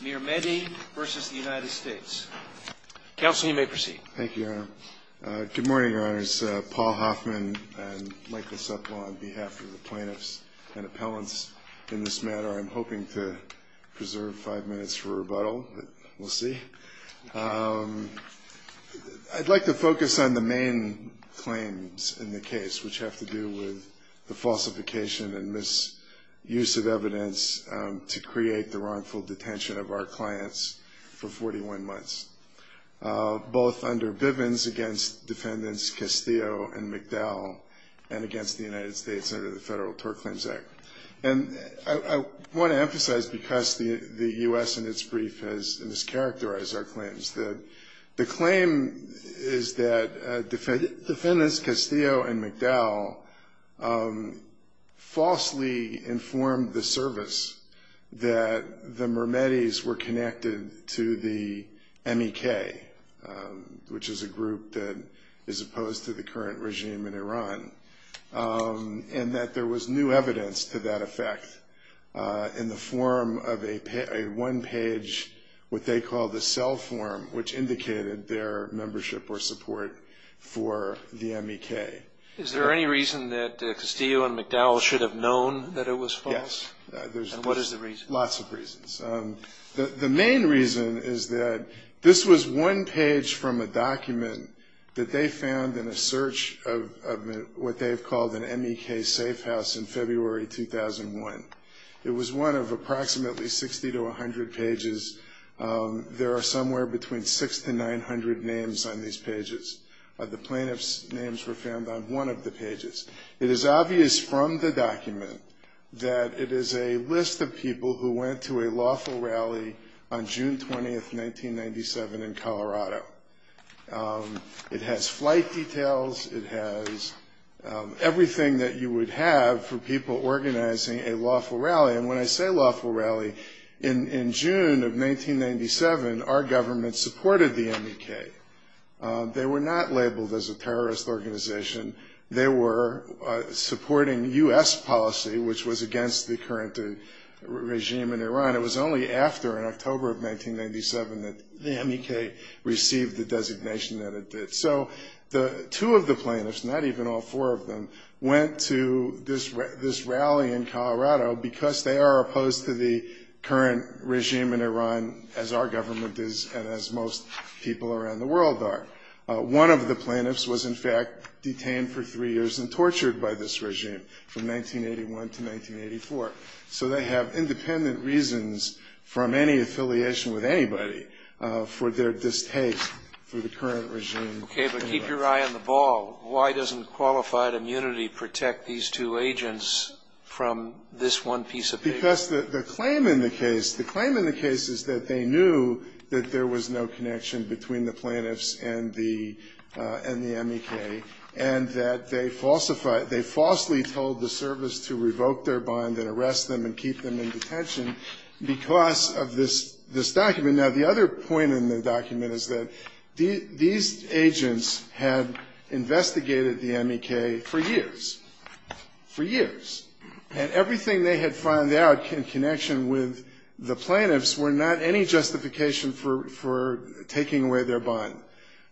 Good morning, Your Honors. Paul Hoffman. I'd like to focus on the main claims in the case, which have to do with the falsification and misuse of evidence to create the wrongful accusation. And I want to emphasize because the U.S. in its brief has mischaracterized our claims that the claim is that defendants Castillo and McDowell falsely informed the service that the murder of the defendants was not a crime. The Mirmehdis were connected to the MEK, which is a group that is opposed to the current regime in Iran, and that there was new evidence to that effect in the form of a one-page, what they call the cell form, which indicated their membership or support for the MEK. Is there any reason that Castillo and McDowell should have known that it was false? Yes. And what is the reason? Lots of reasons. The main reason is that this was one page from a document that they found in a search of what they've called an MEK safe house in February 2001. It was one of approximately 60 to 100 pages. There are somewhere between 600 to 900 names on these pages. The plaintiffs' names were found on one of the pages. It is obvious from the document that it is a list of people who went to a lawful rally on June 20, 1997, in Colorado. It has flight details. It has everything that you would have for people organizing a lawful rally. And when I say lawful rally, in June of 1997, our government supported the MEK. They were not labeled as a terrorist organization. They were supporting U.S. policy, which was against the current regime in Iran. It was only after, in October of 1997, that the MEK received the designation that it did. So two of the plaintiffs, not even all four of them, went to this rally in Colorado because they are opposed to the current regime in Iran as our government is and as most people around the world are. One of the plaintiffs was, in fact, detained for three years and tortured by this regime from 1981 to 1984. So they have independent reasons from any affiliation with anybody for their distaste for the current regime in Iran. Okay. But keep your eye on the ball. Why doesn't qualified immunity protect these two agents from this one piece of paper? in detention because of this document. Now, the other point in the document is that these agents had investigated the MEK for years, for years. And everything they had found out in connection with the plaintiffs were not any justification for taking away their bond.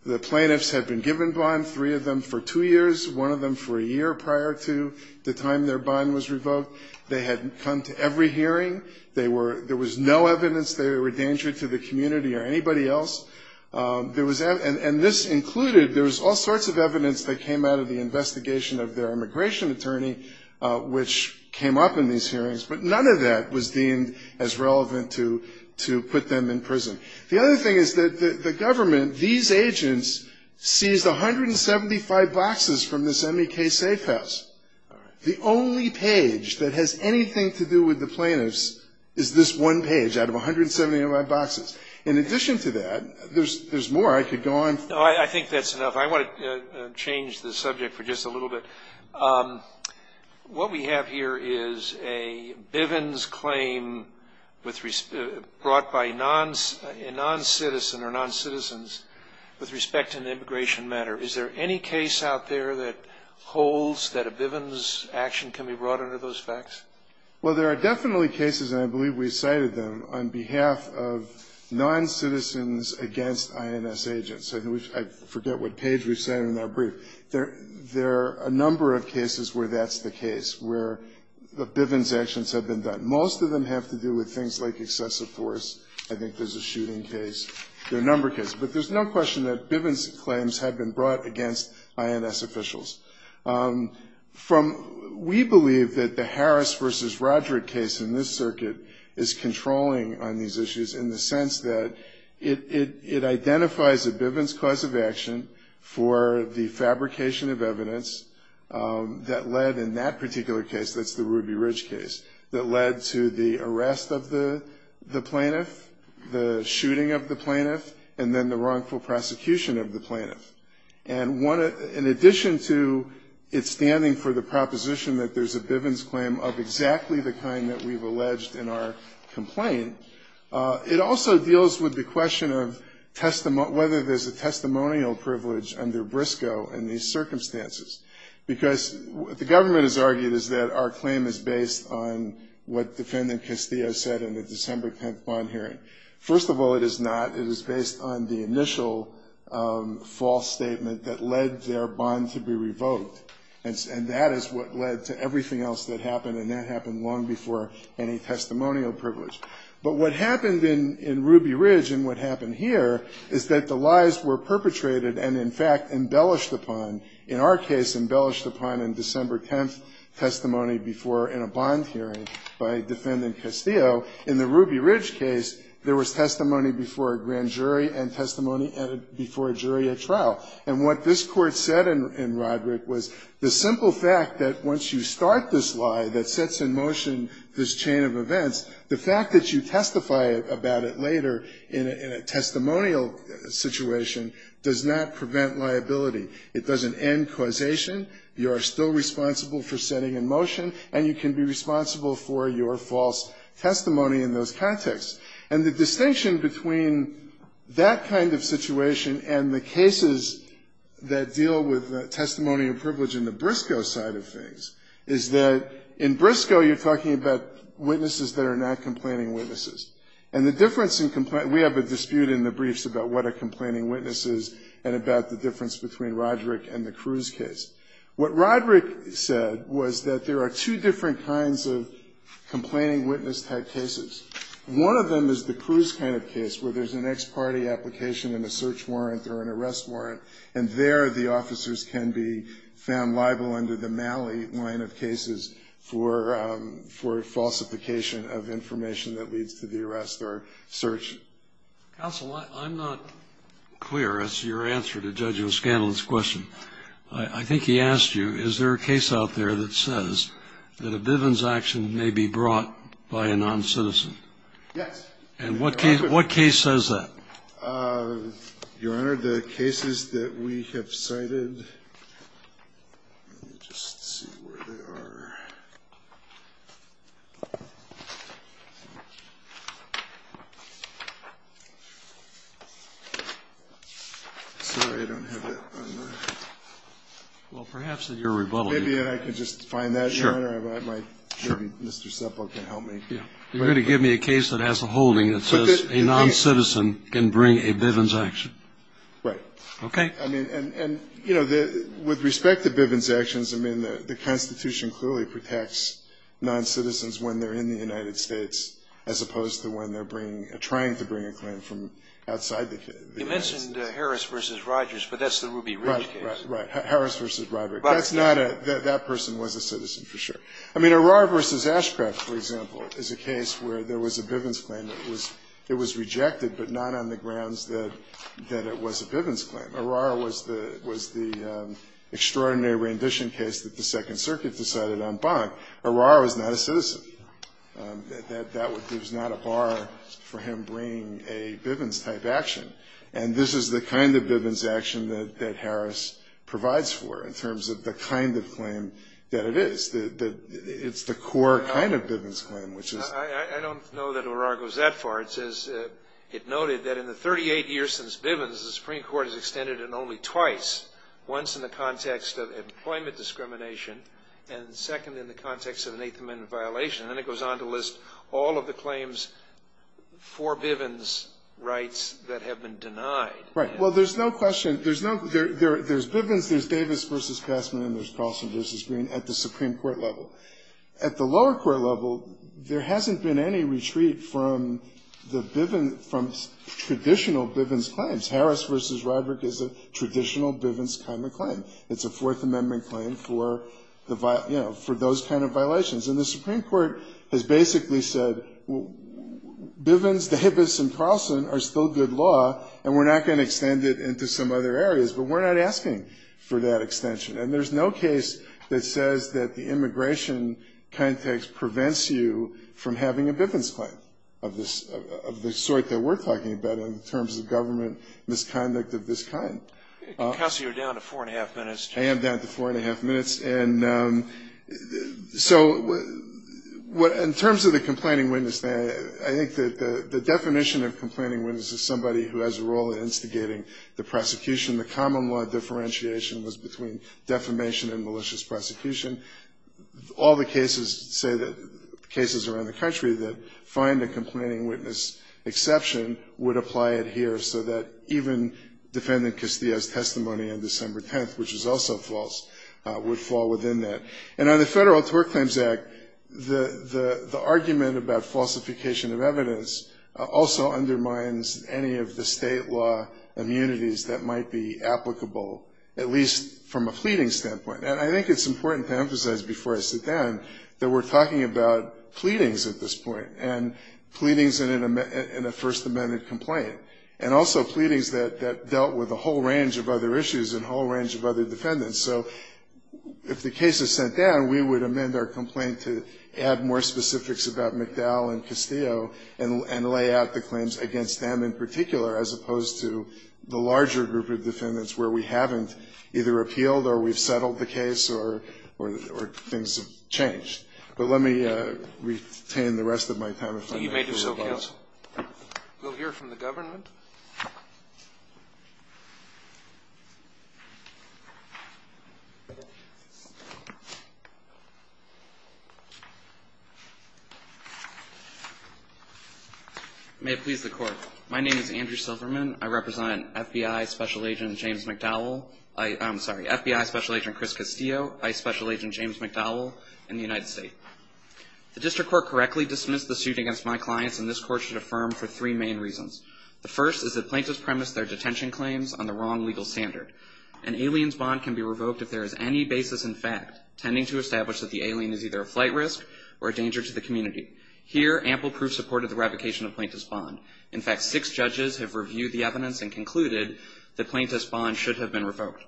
The plaintiffs had been given bond, three of them, for two years, one of them for a year prior to the time their bond was revoked. They had come to every hearing. There was no evidence they were a danger to the community or anybody else. And this included, there was all sorts of evidence that came out of the investigation of their immigration attorney, which came up in these hearings, but none of that was deemed as relevant to put them in prison. The other thing is that the government, these agents, seized 175 boxes from this MEK safe house. The only page that has anything to do with the plaintiffs is this one page out of 175 boxes. In addition to that, there's more I could go on. No, I think that's enough. I want to change the subject for just a little bit. What we have here is a Bivens claim brought by a noncitizen or noncitizens with respect to an immigration matter. Is there any case out there that holds that a Bivens action can be brought under those facts? Well, there are definitely cases, and I believe we cited them, on behalf of noncitizens against INS agents. I forget what page we cited in our brief. There are a number of cases where that's the case, where the Bivens actions have been done. Most of them have to do with things like excessive force. I think there's a shooting case. There are a number of cases. But there's no question that Bivens claims have been brought against INS officials. We believe that the Harris v. Rodrick case in this circuit is controlling on these issues in the sense that it identifies a Bivens cause of action for the fabrication of evidence that led, in that particular case, that's the Ruby Ridge case, that led to the arrest of the plaintiff, the shooting of the plaintiff, and then the wrongful prosecution of the plaintiff. And in addition to it standing for the proposition that there's a Bivens claim of exactly the kind that we've alleged in our complaint, it also deals with the question of whether there's a testimonial privilege under BRSCO in these circumstances. Because what the government has argued is that our claim is based on what Defendant Castillo said in the December 10th bond hearing. First of all, it is not. It is based on the initial false statement that led their bond to be revoked. And that is what led to everything else that happened, and that happened long before any testimonial privilege. But what happened in Ruby Ridge and what happened here is that the lies were perpetrated and, in fact, embellished upon, in our case, embellished upon in December 10th testimony before in a bond hearing by Defendant Castillo. In the Ruby Ridge case, there was testimony before a grand jury and testimony before a jury at trial. And what this Court said in Roderick was the simple fact that once you start this lie that sets in motion this chain of events, the fact that you testify about it later in a testimonial situation does not prevent liability. It doesn't end causation. You are still responsible for setting in motion, and you can be responsible for your false testimony in those contexts. And the distinction between that kind of situation and the cases that deal with testimonial privilege in the BRSCO side of things is that in BRSCO you're talking about witnesses that are not complaining witnesses. And the difference in we have a dispute in the briefs about what are complaining witnesses and about the difference between Roderick and the Cruz case. What Roderick said was that there are two different kinds of complaining witness-type cases. One of them is the Cruz kind of case where there's an ex parte application and a search warrant or an arrest warrant, and there the officers can be found liable under the Malley line of cases for falsification of information that leads to the arrest warrant. And the other one is the Malley line of cases where there's an ex parte application and a search warrant, and there the officers can be found liable under the Malley line of cases for falsification of information that leads to the arrest or search. And the other one is the Malley line of cases where there's an ex parte application and a search warrant, and there the officers can be found liable under the Malley line of cases for falsification of information that leads to the arrest or search warrant. And the other one is when they're bringing, trying to bring a claim from outside the United States. You mentioned Harris v. Rogers, but that's the Ruby Ridge case. Right, right. Harris v. Rogers. That's not a, that person was a citizen for sure. I mean, O'Rourke v. Ashcraft, for example, is a case where there was a Bivens claim that was, it was rejected, but not on the grounds that it was a Bivens claim. O'Rourke was the, was the extraordinary rendition case that the Second Circuit decided on Bonk. O'Rourke was not a citizen. That would, there's not a bar for him bringing a Bivens type action. And this is the kind of Bivens action that Harris provides for in terms of the kind of claim that it is. It's the core kind of Bivens claim, which is. I don't know that O'Rourke goes that far. It noted that in the 38 years since Bivens, the Supreme Court has extended it only twice. Once in the context of employment discrimination, and second in the context of an eighth amendment violation. And then it goes on to list all of the claims for Bivens rights that have been denied. Right. Well, there's no question, there's no, there's Bivens, there's Davis v. Passman, and there's Carlson v. Green at the Supreme Court level. At the lower court level, there hasn't been any retreat from the Bivens, from traditional Bivens claims. Harris v. Ryberg is a traditional Bivens kind of claim. It's a fourth amendment claim for the, you know, for those kind of violations. And the Supreme Court has basically said, Bivens, Davis, and Carlson are still good law, and we're not going to extend it into some other areas. But we're not asking for that extension. And there's no case that says that the immigration context prevents you from having a Bivens claim of this, of the sort that we're talking about in terms of government misconduct of this kind. Counsel, you're down to four and a half minutes. I am down to four and a half minutes. And so in terms of the complaining witness, I think that the definition of complaining witness is somebody who has a role in instigating the prosecution. The common law differentiation was between defamation and malicious prosecution. All the cases say that, cases around the country that find a complaining witness exception would apply it here, so that even defendant Castillo's testimony on December 10th, which is also false, would fall within that. And on the Federal Tort Claims Act, the argument about falsification of evidence also undermines any of the state law immunities that might be applicable, at least from a pleading standpoint. And I think it's important to emphasize before I sit down that we're talking about pleadings at this point, and pleadings in a First Amendment complaint, and also pleadings that dealt with a whole range of other issues and a whole range of other defendants. So if the case is sent down, we would amend our complaint to add more specifics about McDowell and Castillo and lay out the claims against them in particular, as opposed to the larger group of defendants where we haven't either appealed or we've settled the case or things have changed. But let me retain the rest of my time if I may. Thank you, counsel. We'll hear from the government. May it please the Court. My name is Andrew Silverman. I represent FBI Special Agent Chris Castillo, ICE Special Agent James McDowell, and the United States. The District Court correctly dismissed the suit against my clients, and this Court should affirm for three main reasons. First is that plaintiffs premise their detention claims on the wrong legal standard. An alien's bond can be revoked if there is any basis in fact tending to establish that the alien is either a flight risk or a danger to the community. Here, ample proof supported the revocation of plaintiff's bond. In fact, six judges have reviewed the evidence and concluded that plaintiff's bond should have been revoked.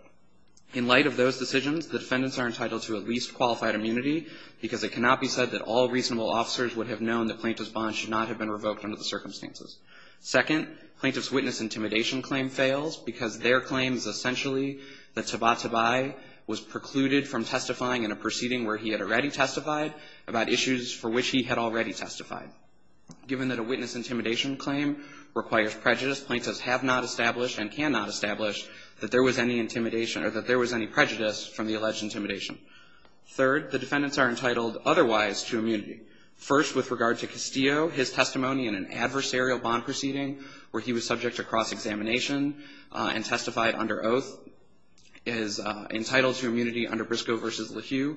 In light of those decisions, the defendants are entitled to at least qualified immunity because it cannot be said that all reasonable officers would have known that plaintiff's bond should not have been revoked under the circumstances. Second, plaintiff's witness intimidation claim fails because their claim is essentially that Tabatabai was precluded from testifying in a proceeding where he had already testified about issues for which he had already testified. Given that a witness intimidation claim requires prejudice, plaintiffs have not established and cannot establish that there was any intimidation or that there was any prejudice from the alleged intimidation. Third, the defendants are entitled otherwise to immunity. First, with regard to Castillo, his testimony in an adversarial bond proceeding where he was subject to cross-examination and testified under oath is entitled to immunity under Briscoe v. LaHue.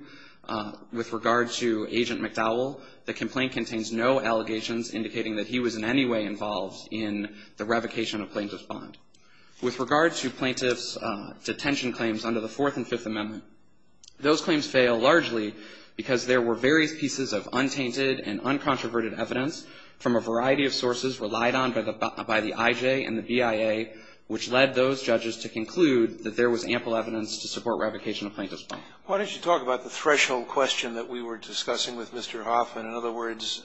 With regard to Agent McDowell, the complaint contains no allegations indicating that he was in any way involved in the revocation of plaintiff's bond. With regard to plaintiff's detention claims under the Fourth and Fifth Amendment, those claims fail largely because there were various pieces of untainted and uncontroverted evidence from a variety of sources relied on by the I.J. and the BIA which led those judges to conclude that there was ample evidence to support revocation of plaintiff's bond. Scalia. Why don't you talk about the threshold question that we were discussing with Mr. Hoffman? In other words,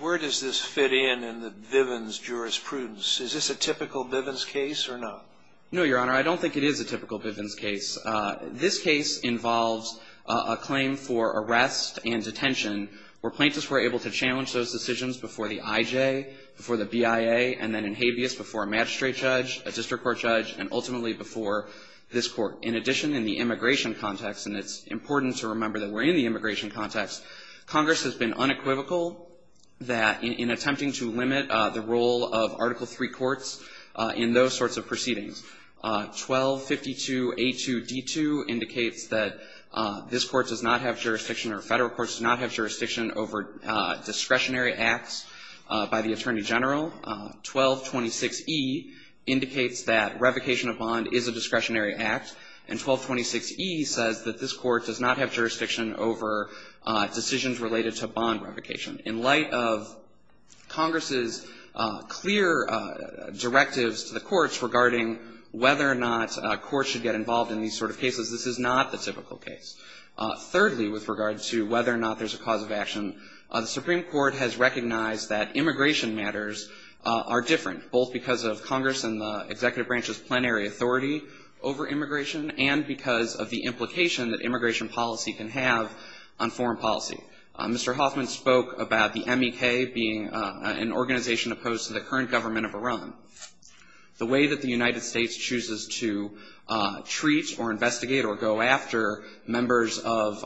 where does this fit in in the Bivens jurisprudence? Is this a typical Bivens case or not? No, Your Honor. I don't think it is a typical Bivens case. This case involves a claim for arrest and detention where plaintiffs were able to challenge those decisions before the I.J., before the BIA, and then in habeas before a magistrate judge, a district court judge, and ultimately before this court. In addition, in the immigration context, and it's important to remember that we're in the immigration context, Congress has been unequivocal that in attempting to limit the role of Article III courts in those sorts of proceedings, 1252A2D2 indicates that this court does not have jurisdiction, or federal courts do not have jurisdiction over discretionary acts by the Attorney General. 1226E indicates that revocation of bond is a discretionary act, and 1226E says that this court does not have jurisdiction over decisions related to bond revocation. In light of Congress's clear directives to the courts regarding whether or not courts should get involved in these sort of cases, this is not the typical case. Thirdly, with regard to whether or not there's a cause of action, the Supreme Court has recognized that immigration matters are different, both because of Congress and the executive branch's plenary authority over immigration, and because of the implication that immigration policy can have on foreign policy. Mr. Hoffman spoke about the MEK being an organization opposed to the current government of Iran. The way that the United States chooses to treat or investigate or go after members of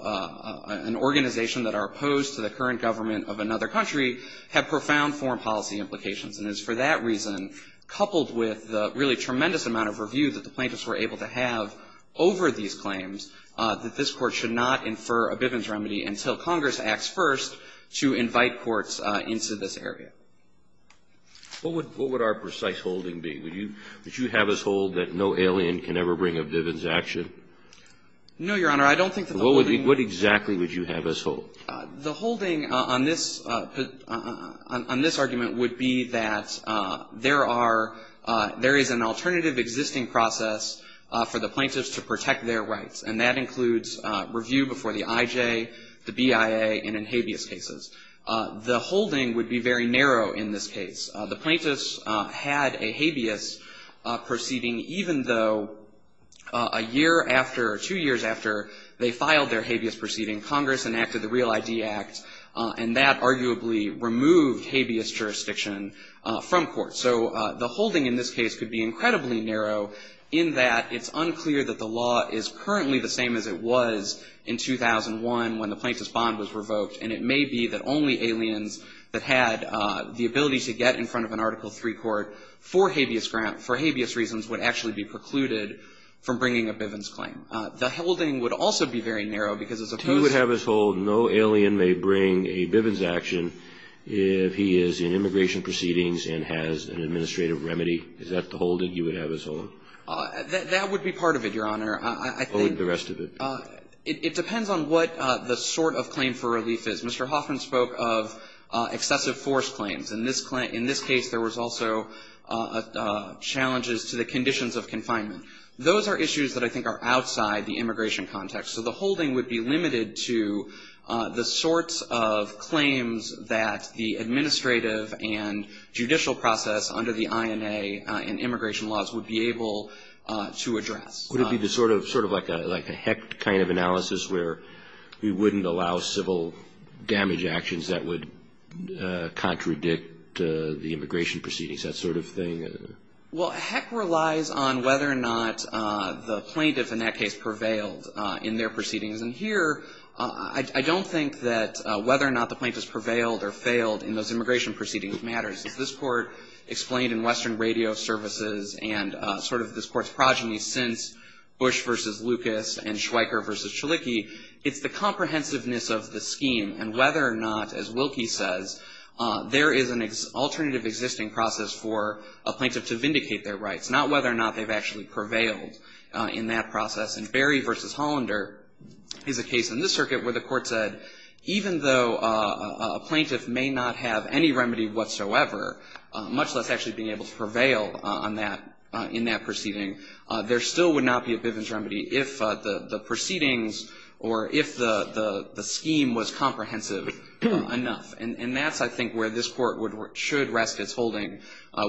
an organization that are opposed to the current government of another country have profound foreign policy implications, and it's for that reason, coupled with the really tremendous amount of review that the plaintiffs were able to have over these claims, that this Court should not infer a Bivens remedy until Congress acts first to invite courts into this area. What would our precise holding be? Would you have us hold that no alien can ever bring a Bivens action? No, Your Honor. I don't think that the holding What exactly would you have us hold? The holding on this argument would be that there are, there is an alternative existing process for the plaintiffs to protect their rights, and that includes review before the IJ, the BIA, and in habeas cases. The holding would be very narrow in this case. The plaintiffs had a habeas proceeding, even though a year after, or two years after they filed their habeas proceeding, Congress enacted the Real ID Act, and that arguably removed habeas jurisdiction from court. So the holding in this case could be incredibly narrow in that it's unclear that the law is currently the same as it was in 2001 when the plaintiff's bond was revoked, and it may be that only aliens that had the ability to get in front of an Article III court for habeas reasons would actually be precluded from bringing a Bivens claim. The holding would also be very narrow because as opposed to You would have us hold no alien may bring a Bivens action if he is in immigration proceedings and has an administrative remedy. Is that the holding you would have us hold? That would be part of it, Your Honor. I think What would the rest of it be? It depends on what the sort of claim for relief is. Mr. Hoffman spoke of excessive force claims. In this case, there was also challenges to the conditions of confinement. Those are issues that I think are outside the immigration context. So the holding would be limited to the sorts of claims that the administrative and judicial process under the INA and immigration laws would be able to address. Would it be sort of like a HECT kind of analysis where we wouldn't allow civil damage actions that would contradict the immigration proceedings, that sort of thing? Well, HECT relies on whether or not the plaintiff in that case prevailed in their proceedings. And here I don't think that whether or not the plaintiff has prevailed or failed in those immigration proceedings matters. As this Court explained in Western Radio Services and sort of this Court's progeny since Bush v. Lucas and Schweiker v. Chalicki, it's the comprehensiveness of the scheme and whether or not, as Wilkie says, there is an alternative existing process for a plaintiff to vindicate their rights, not whether or not they've actually prevailed in that process. And Berry v. Hollander is a case in this circuit where the Court said even though a plaintiff may not have any remedy whatsoever, much less actually being able to prevail on that in that proceeding, there still would not be a Bivens remedy if the proceedings or if the scheme was comprehensive enough. And that's, I think, where this Court should rest its holding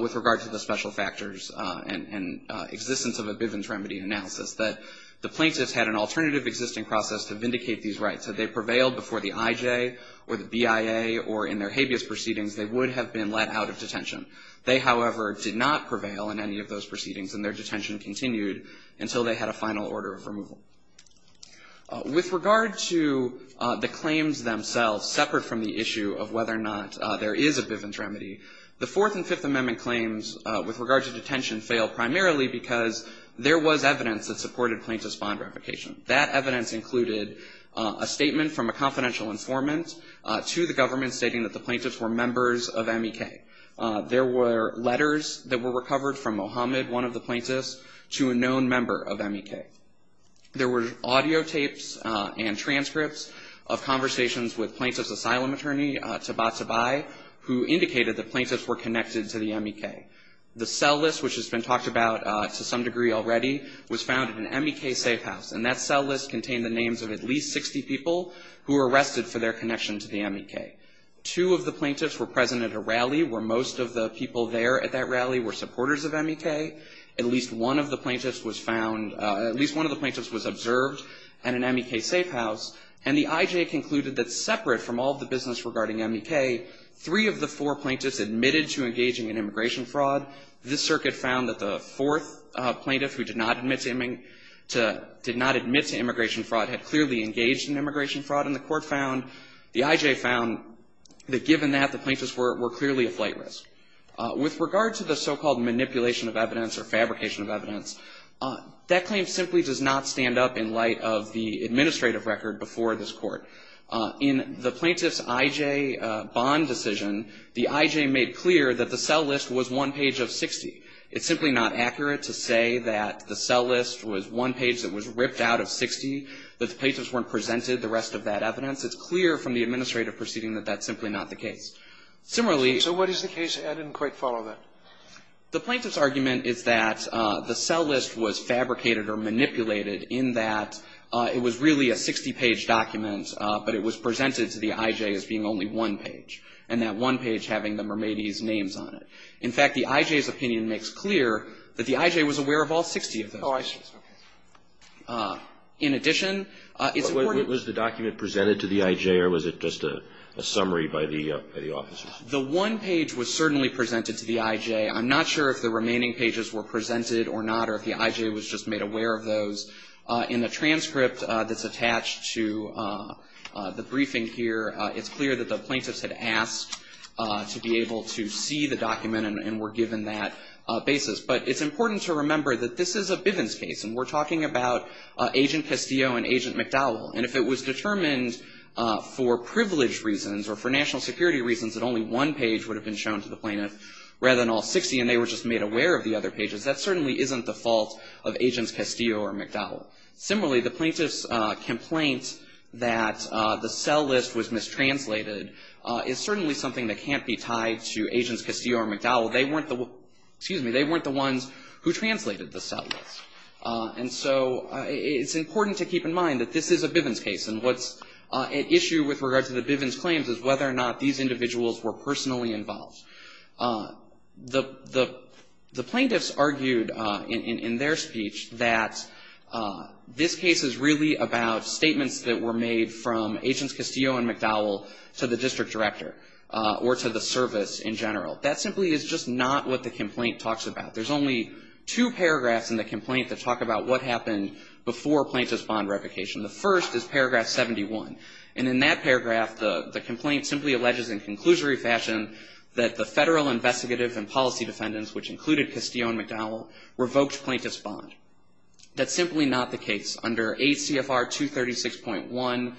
with regard to the special factors and existence of a Bivens remedy analysis, that the plaintiffs had an alternative existing process to vindicate these rights. Had they prevailed before the IJ or the BIA or in their habeas proceedings, they would have been let out of detention. They, however, did not prevail in any of those proceedings and their detention continued until they had a final order of removal. With regard to the claims themselves, separate from the issue of whether or not there is a Bivens remedy, the Fourth and Fifth Amendment claims with regard to detention fail primarily because there was evidence that supported plaintiff's bond revocation. That evidence included a statement from a confidential informant to the government stating that the plaintiffs were members of MEK. There were letters that were recovered from Mohammed, one of the plaintiffs, to a known member of MEK. There were audio tapes and transcripts of conversations with plaintiff's asylum attorney, Tabatabai, who indicated that plaintiffs were connected to the MEK. The cell list, which has been talked about to some degree already, was found in an MEK safe house, and that cell list contained the names of at least 60 people who were arrested for their connection to the MEK. Two of the plaintiffs were present at a rally where most of the people there at that rally were supporters of MEK. At least one of the plaintiffs was found, at least one of the plaintiffs was observed at an MEK safe house, and the IJ concluded that separate from all of the business regarding MEK, three of the four plaintiffs admitted to engaging in immigration fraud. This circuit found that the fourth plaintiff who did not admit to immigration fraud had clearly engaged in immigration fraud, and the court found, the IJ found, that given that, the plaintiffs were clearly a flight risk. With regard to the so-called manipulation of evidence or fabrication of evidence, that claim simply does not stand up in light of the administrative record before this Court. In the plaintiff's IJ bond decision, the IJ made clear that the cell list was one page of 60. It's simply not accurate to say that the cell list was one page that was ripped out of 60, that the plaintiffs weren't presented the rest of that evidence. It's clear from the administrative proceeding that that's simply not the case. Similarly ---- Sotomayor, so what is the case? I didn't quite follow that. The plaintiff's argument is that the cell list was fabricated or manipulated in that it was really a 60-page document, but it was presented to the IJ as being only one page, and that one page having the Mermady's names on it. In fact, the IJ's opinion makes clear that the IJ was aware of all 60 of those pages. In addition, it's important ---- Was the document presented to the IJ, or was it just a summary by the officers? The one page was certainly presented to the IJ. I'm not sure if the remaining pages were presented or not, or if the IJ was just made aware of those. In the transcript that's attached to the briefing here, it's clear that the plaintiffs had asked to be able to see the document and were given that basis. But it's important to remember that this is a Bivens case, and we're talking about Agent Castillo and Agent McDowell. And if it was determined for privilege reasons or for national security reasons that only one page would have been shown to the plaintiff rather than all 60, and they were just made aware of the other pages, that certainly isn't the fault of Agents Castillo or McDowell. Similarly, the plaintiff's complaint that the cell list was mistranslated is certainly something that can't be tied to Agents Castillo or McDowell. They weren't the ones who translated the cell list. And so it's important to keep in mind that this is a Bivens case. And what's at issue with regard to the Bivens claims is whether or not these individuals were personally involved. The plaintiffs argued in their speech that this case is really about statements that were made from Agents Castillo and McDowell to the district director or to the service in general. That simply is just not what the complaint talks about. There's only two paragraphs in the complaint that talk about what happened before plaintiff's bond revocation. The first is paragraph 71. And in that paragraph, the complaint simply alleges in conclusory fashion that the federal investigative and policy defendants, which included Castillo and McDowell, revoked plaintiff's bond. That's simply not the case. Under ACFR 236.1c9,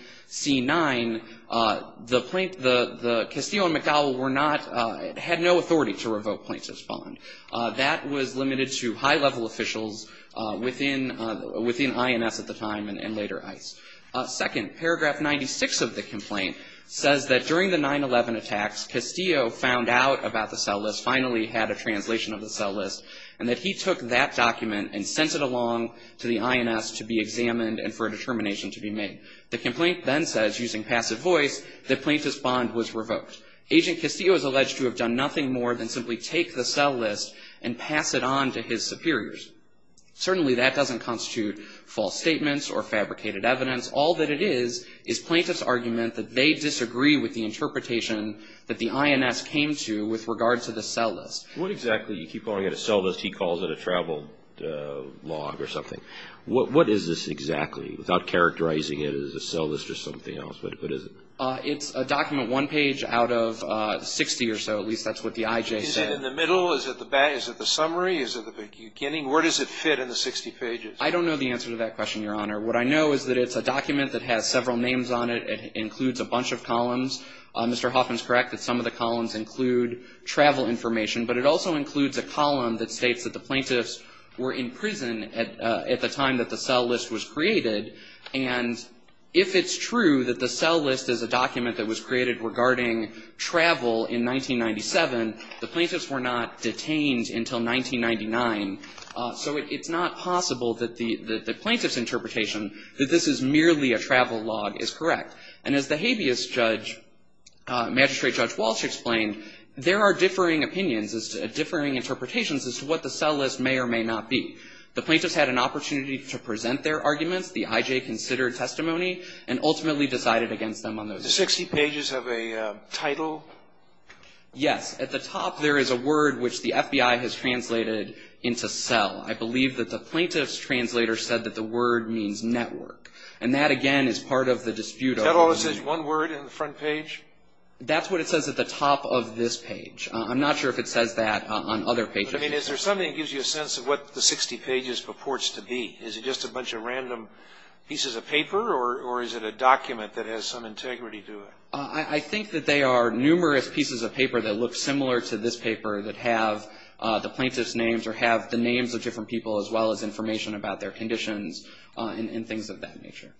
the Castillo and McDowell had no authority to revoke plaintiff's bond. That was limited to high-level officials within INS at the time and later ICE. Second, paragraph 96 of the complaint says that during the 9-11 attacks, Castillo found out about the cell list, finally had a translation of the cell list, and that he took that document and sent it along to the INS to be examined and for a determination to be made. The complaint then says, using passive voice, that plaintiff's bond was revoked. Agent Castillo is alleged to have done nothing more than simply take the cell list and pass it on to his superiors. Certainly, that doesn't constitute false statements or fabricated evidence. All that it is is plaintiff's argument that they disagree with the interpretation that the INS came to with regard to the cell list. What exactly? You keep calling it a cell list. He calls it a travel log or something. What is this exactly, without characterizing it as a cell list or something else? What is it? It's a document one page out of 60 or so. At least that's what the IJ said. Is it in the middle? Is it the back? I mean, where does it fit in the 60 pages? I don't know the answer to that question, Your Honor. What I know is that it's a document that has several names on it. It includes a bunch of columns. Mr. Hoffman is correct that some of the columns include travel information, but it also includes a column that states that the plaintiffs were in prison at the time that the cell list was created. And if it's true that the cell list is a document that was created regarding travel in 1997, the plaintiffs were not detained until 1999. So it's not possible that the plaintiff's interpretation that this is merely a travel log is correct. And as the habeas judge, Magistrate Judge Walsh explained, there are differing opinions, differing interpretations as to what the cell list may or may not be. The plaintiffs had an opportunity to present their arguments. The IJ considered testimony and ultimately decided against them on those. Does the 60 pages have a title? Yes. At the top, there is a word which the FBI has translated into cell. I believe that the plaintiff's translator said that the word means network. And that, again, is part of the dispute. Is that all it says, one word in the front page? That's what it says at the top of this page. I'm not sure if it says that on other pages. I mean, is there something that gives you a sense of what the 60 pages purports to be? Is it just a bunch of random pieces of paper, or is it a document that has some integrity to it? I think that they are numerous pieces of paper that look similar to this paper that have the plaintiff's names or have the names of different people as well as information about their conditions and things of that nature.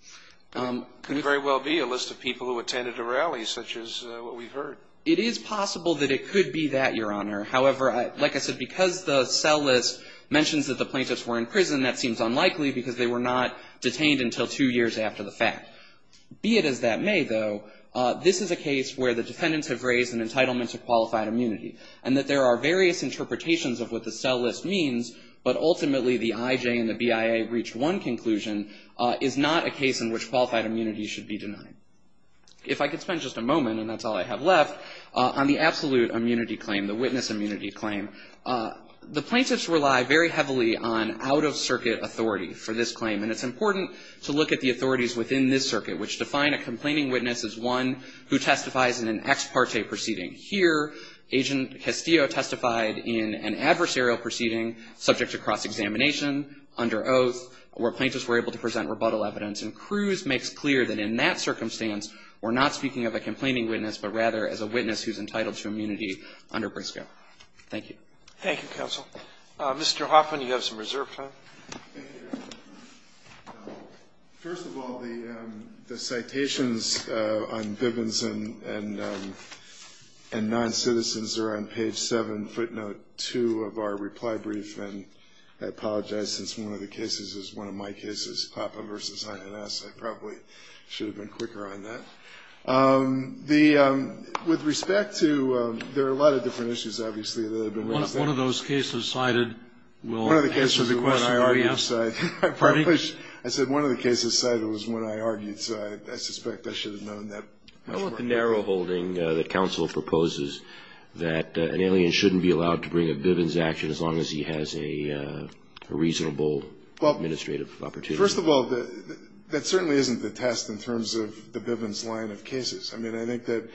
It could very well be a list of people who attended a rally, such as what we've heard. It is possible that it could be that, Your Honor. However, like I said, because the cell list mentions that the plaintiffs were in prison, that seems unlikely because they were not detained until two years after the fact. Be it as that may, though, this is a case where the defendants have raised an entitlement to qualified immunity. And that there are various interpretations of what the cell list means, but ultimately the IJ and the BIA reached one conclusion, is not a case in which qualified immunity should be denied. If I could spend just a moment, and that's all I have left, on the absolute immunity claim, the witness immunity claim. The plaintiffs rely very heavily on out-of-circuit authority for this claim. And it's important to look at the authorities within this circuit, which define a complaining witness as one who testifies in an ex parte proceeding. Here, Agent Castillo testified in an adversarial proceeding subject to cross-examination under oath, where plaintiffs were able to present rebuttal evidence. And Cruz makes clear that in that circumstance, we're not speaking of a complaining witness, but rather as a witness who's entitled to immunity under Briscoe. Thank you. Roberts. Thank you, counsel. Mr. Hoffman, you have some reserve time. Thank you, Your Honor. First of all, the citations on Bivens and non-citizens are on page 7, footnote 2 of our reply brief. And I apologize, since one of the cases is one of my cases, Papa v. INS. I probably should have been quicker on that. With respect to, there are a lot of different issues, obviously, that have been raised. One of those cases cited will answer the question you asked. Pardon me? I said one of the cases cited was one I argued, so I suspect I should have known that. I don't want the narrow holding that counsel proposes that an alien shouldn't be allowed to bring a Bivens action as long as he has a reasonable administrative opportunity. Well, first of all, that certainly isn't the test in terms of the Bivens line of cases. I mean, I think that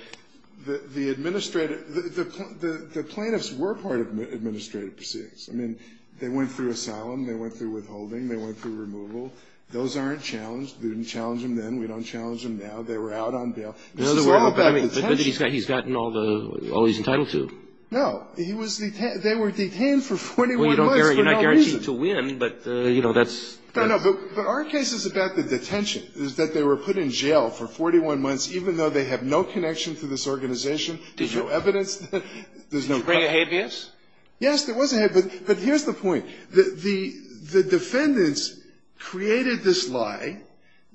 the administrative, the plaintiffs were part of administrative proceedings. I mean, they went through asylum. They went through withholding. They went through removal. Those aren't challenged. We didn't challenge them then. We don't challenge them now. They were out on bail. This is all about detention. But he's gotten all the, all he's entitled to. No. He was, they were detained for 41 months for no reason. Well, you're not guaranteed to win, but, you know, that's. No, no. But our case is about the detention, is that they were put in jail for 41 months even though they have no connection to this organization. There's no evidence. There's no evidence. Did you bring a habeas? Yes, there was a habeas. But here's the point. The defendants created this lie.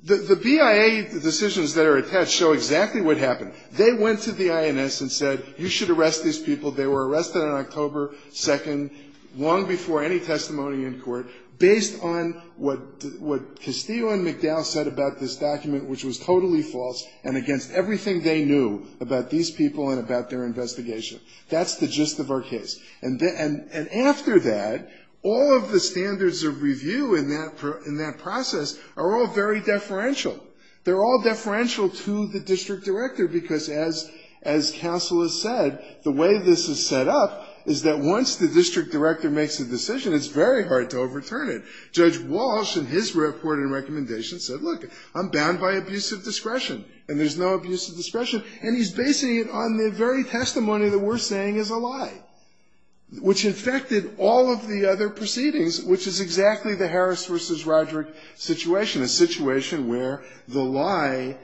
The BIA decisions that are attached show exactly what happened. They went to the INS and said, you should arrest these people. They were arrested on October 2nd, long before any testimony in court, based on what Castillo and McDowell said about this document, which was totally false and against everything they knew about these people and about their investigation. That's the gist of our case. And after that, all of the standards of review in that process are all very deferential. They're all deferential to the district director because, as counsel has said, the way this is set up is that once the district director makes a decision, it's very hard to overturn it. Judge Walsh, in his report and recommendation, said, look, I'm bound by abusive discretion, and there's no abusive discretion. And he's basing it on the very testimony that we're saying is a lie, which infected all of the other proceedings, which is exactly the Harris v. Roderick situation, a situation where the lie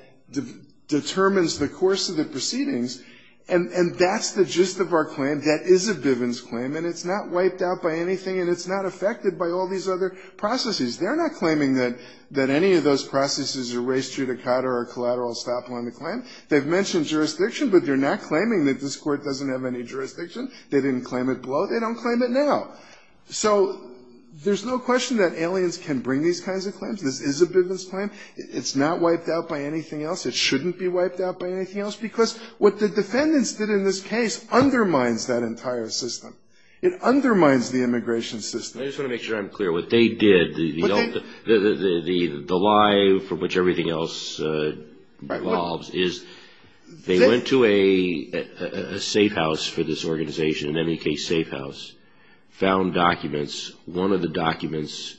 determines the course of the proceedings. And that's the gist of our claim. That is a Bivens claim, and it's not wiped out by anything, and it's not affected by all these other processes. They're not claiming that any of those processes erased Judicata or collateral stop on the claim. They've mentioned jurisdiction, but they're not claiming that this Court doesn't have any jurisdiction. They didn't claim it below. They don't claim it now. So there's no question that aliens can bring these kinds of claims. This is a Bivens claim. It's not wiped out by anything else. It shouldn't be wiped out by anything else because what the defendants did in this case undermines that entire system. It undermines the immigration system. I just want to make sure I'm clear. What they did, the lie from which everything else evolves, is they went to a safe house for this organization, an MEK safe house, found documents. One of the documents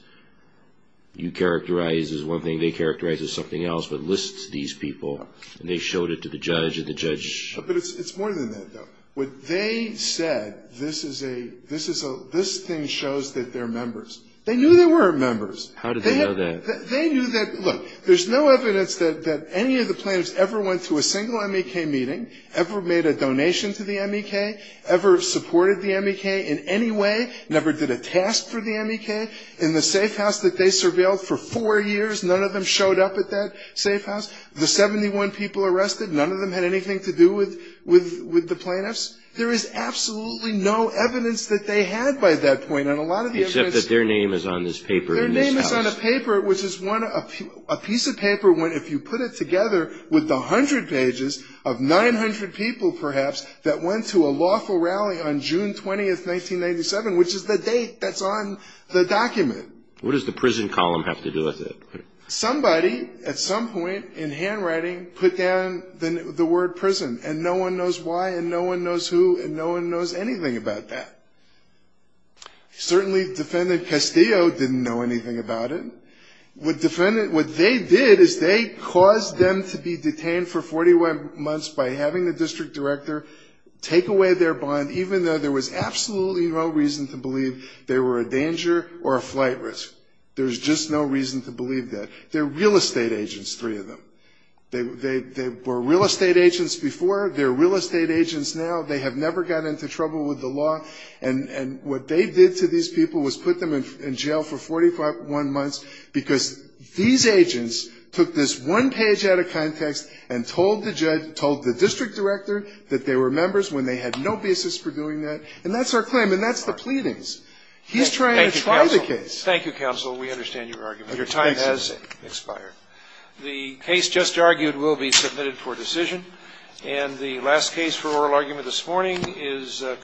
you characterize as one thing, they characterize as something else, but lists these people, and they showed it to the judge, and the judge ---- But it's more than that, though. What they said, this is a ---- this thing shows that they're members. They knew they were members. How did they know that? They knew that. Look, there's no evidence that any of the plaintiffs ever went to a single MEK meeting, ever made a donation to the MEK, ever supported the MEK in any way, never did a task for the MEK. In the safe house that they surveilled for four years, none of them showed up at that safe house. The 71 people arrested, none of them had anything to do with the plaintiffs. There is absolutely no evidence that they had by that point. And a lot of the evidence ---- Except that their name is on this paper in this house. Their name is on a paper, which is one of ---- a piece of paper, when if you put it together with the 100 pages of 900 people, perhaps, that went to a lawful rally on June 20, 1997, which is the date that's on the document. What does the prison column have to do with it? Somebody, at some point in handwriting, put down the word prison, and no one knows why, and no one knows who, and no one knows anything about that. Certainly, Defendant Castillo didn't know anything about it. What they did is they caused them to be detained for 41 months by having the district director take away their bond, even though there was absolutely no reason to believe there were a danger or a flight risk. There's just no reason to believe that. They're real estate agents, three of them. They were real estate agents before. They're real estate agents now. They have never got into trouble with the law. And what they did to these people was put them in jail for 41 months because these agents took this one page out of context and told the judge, told the district director that they were members when they had no basis for doing that. And that's our claim, and that's the pleadings. He's trying to try the case. Thank you, counsel. We understand your argument. Your time has expired. The case just argued will be submitted for decision. And the last case for oral argument this morning is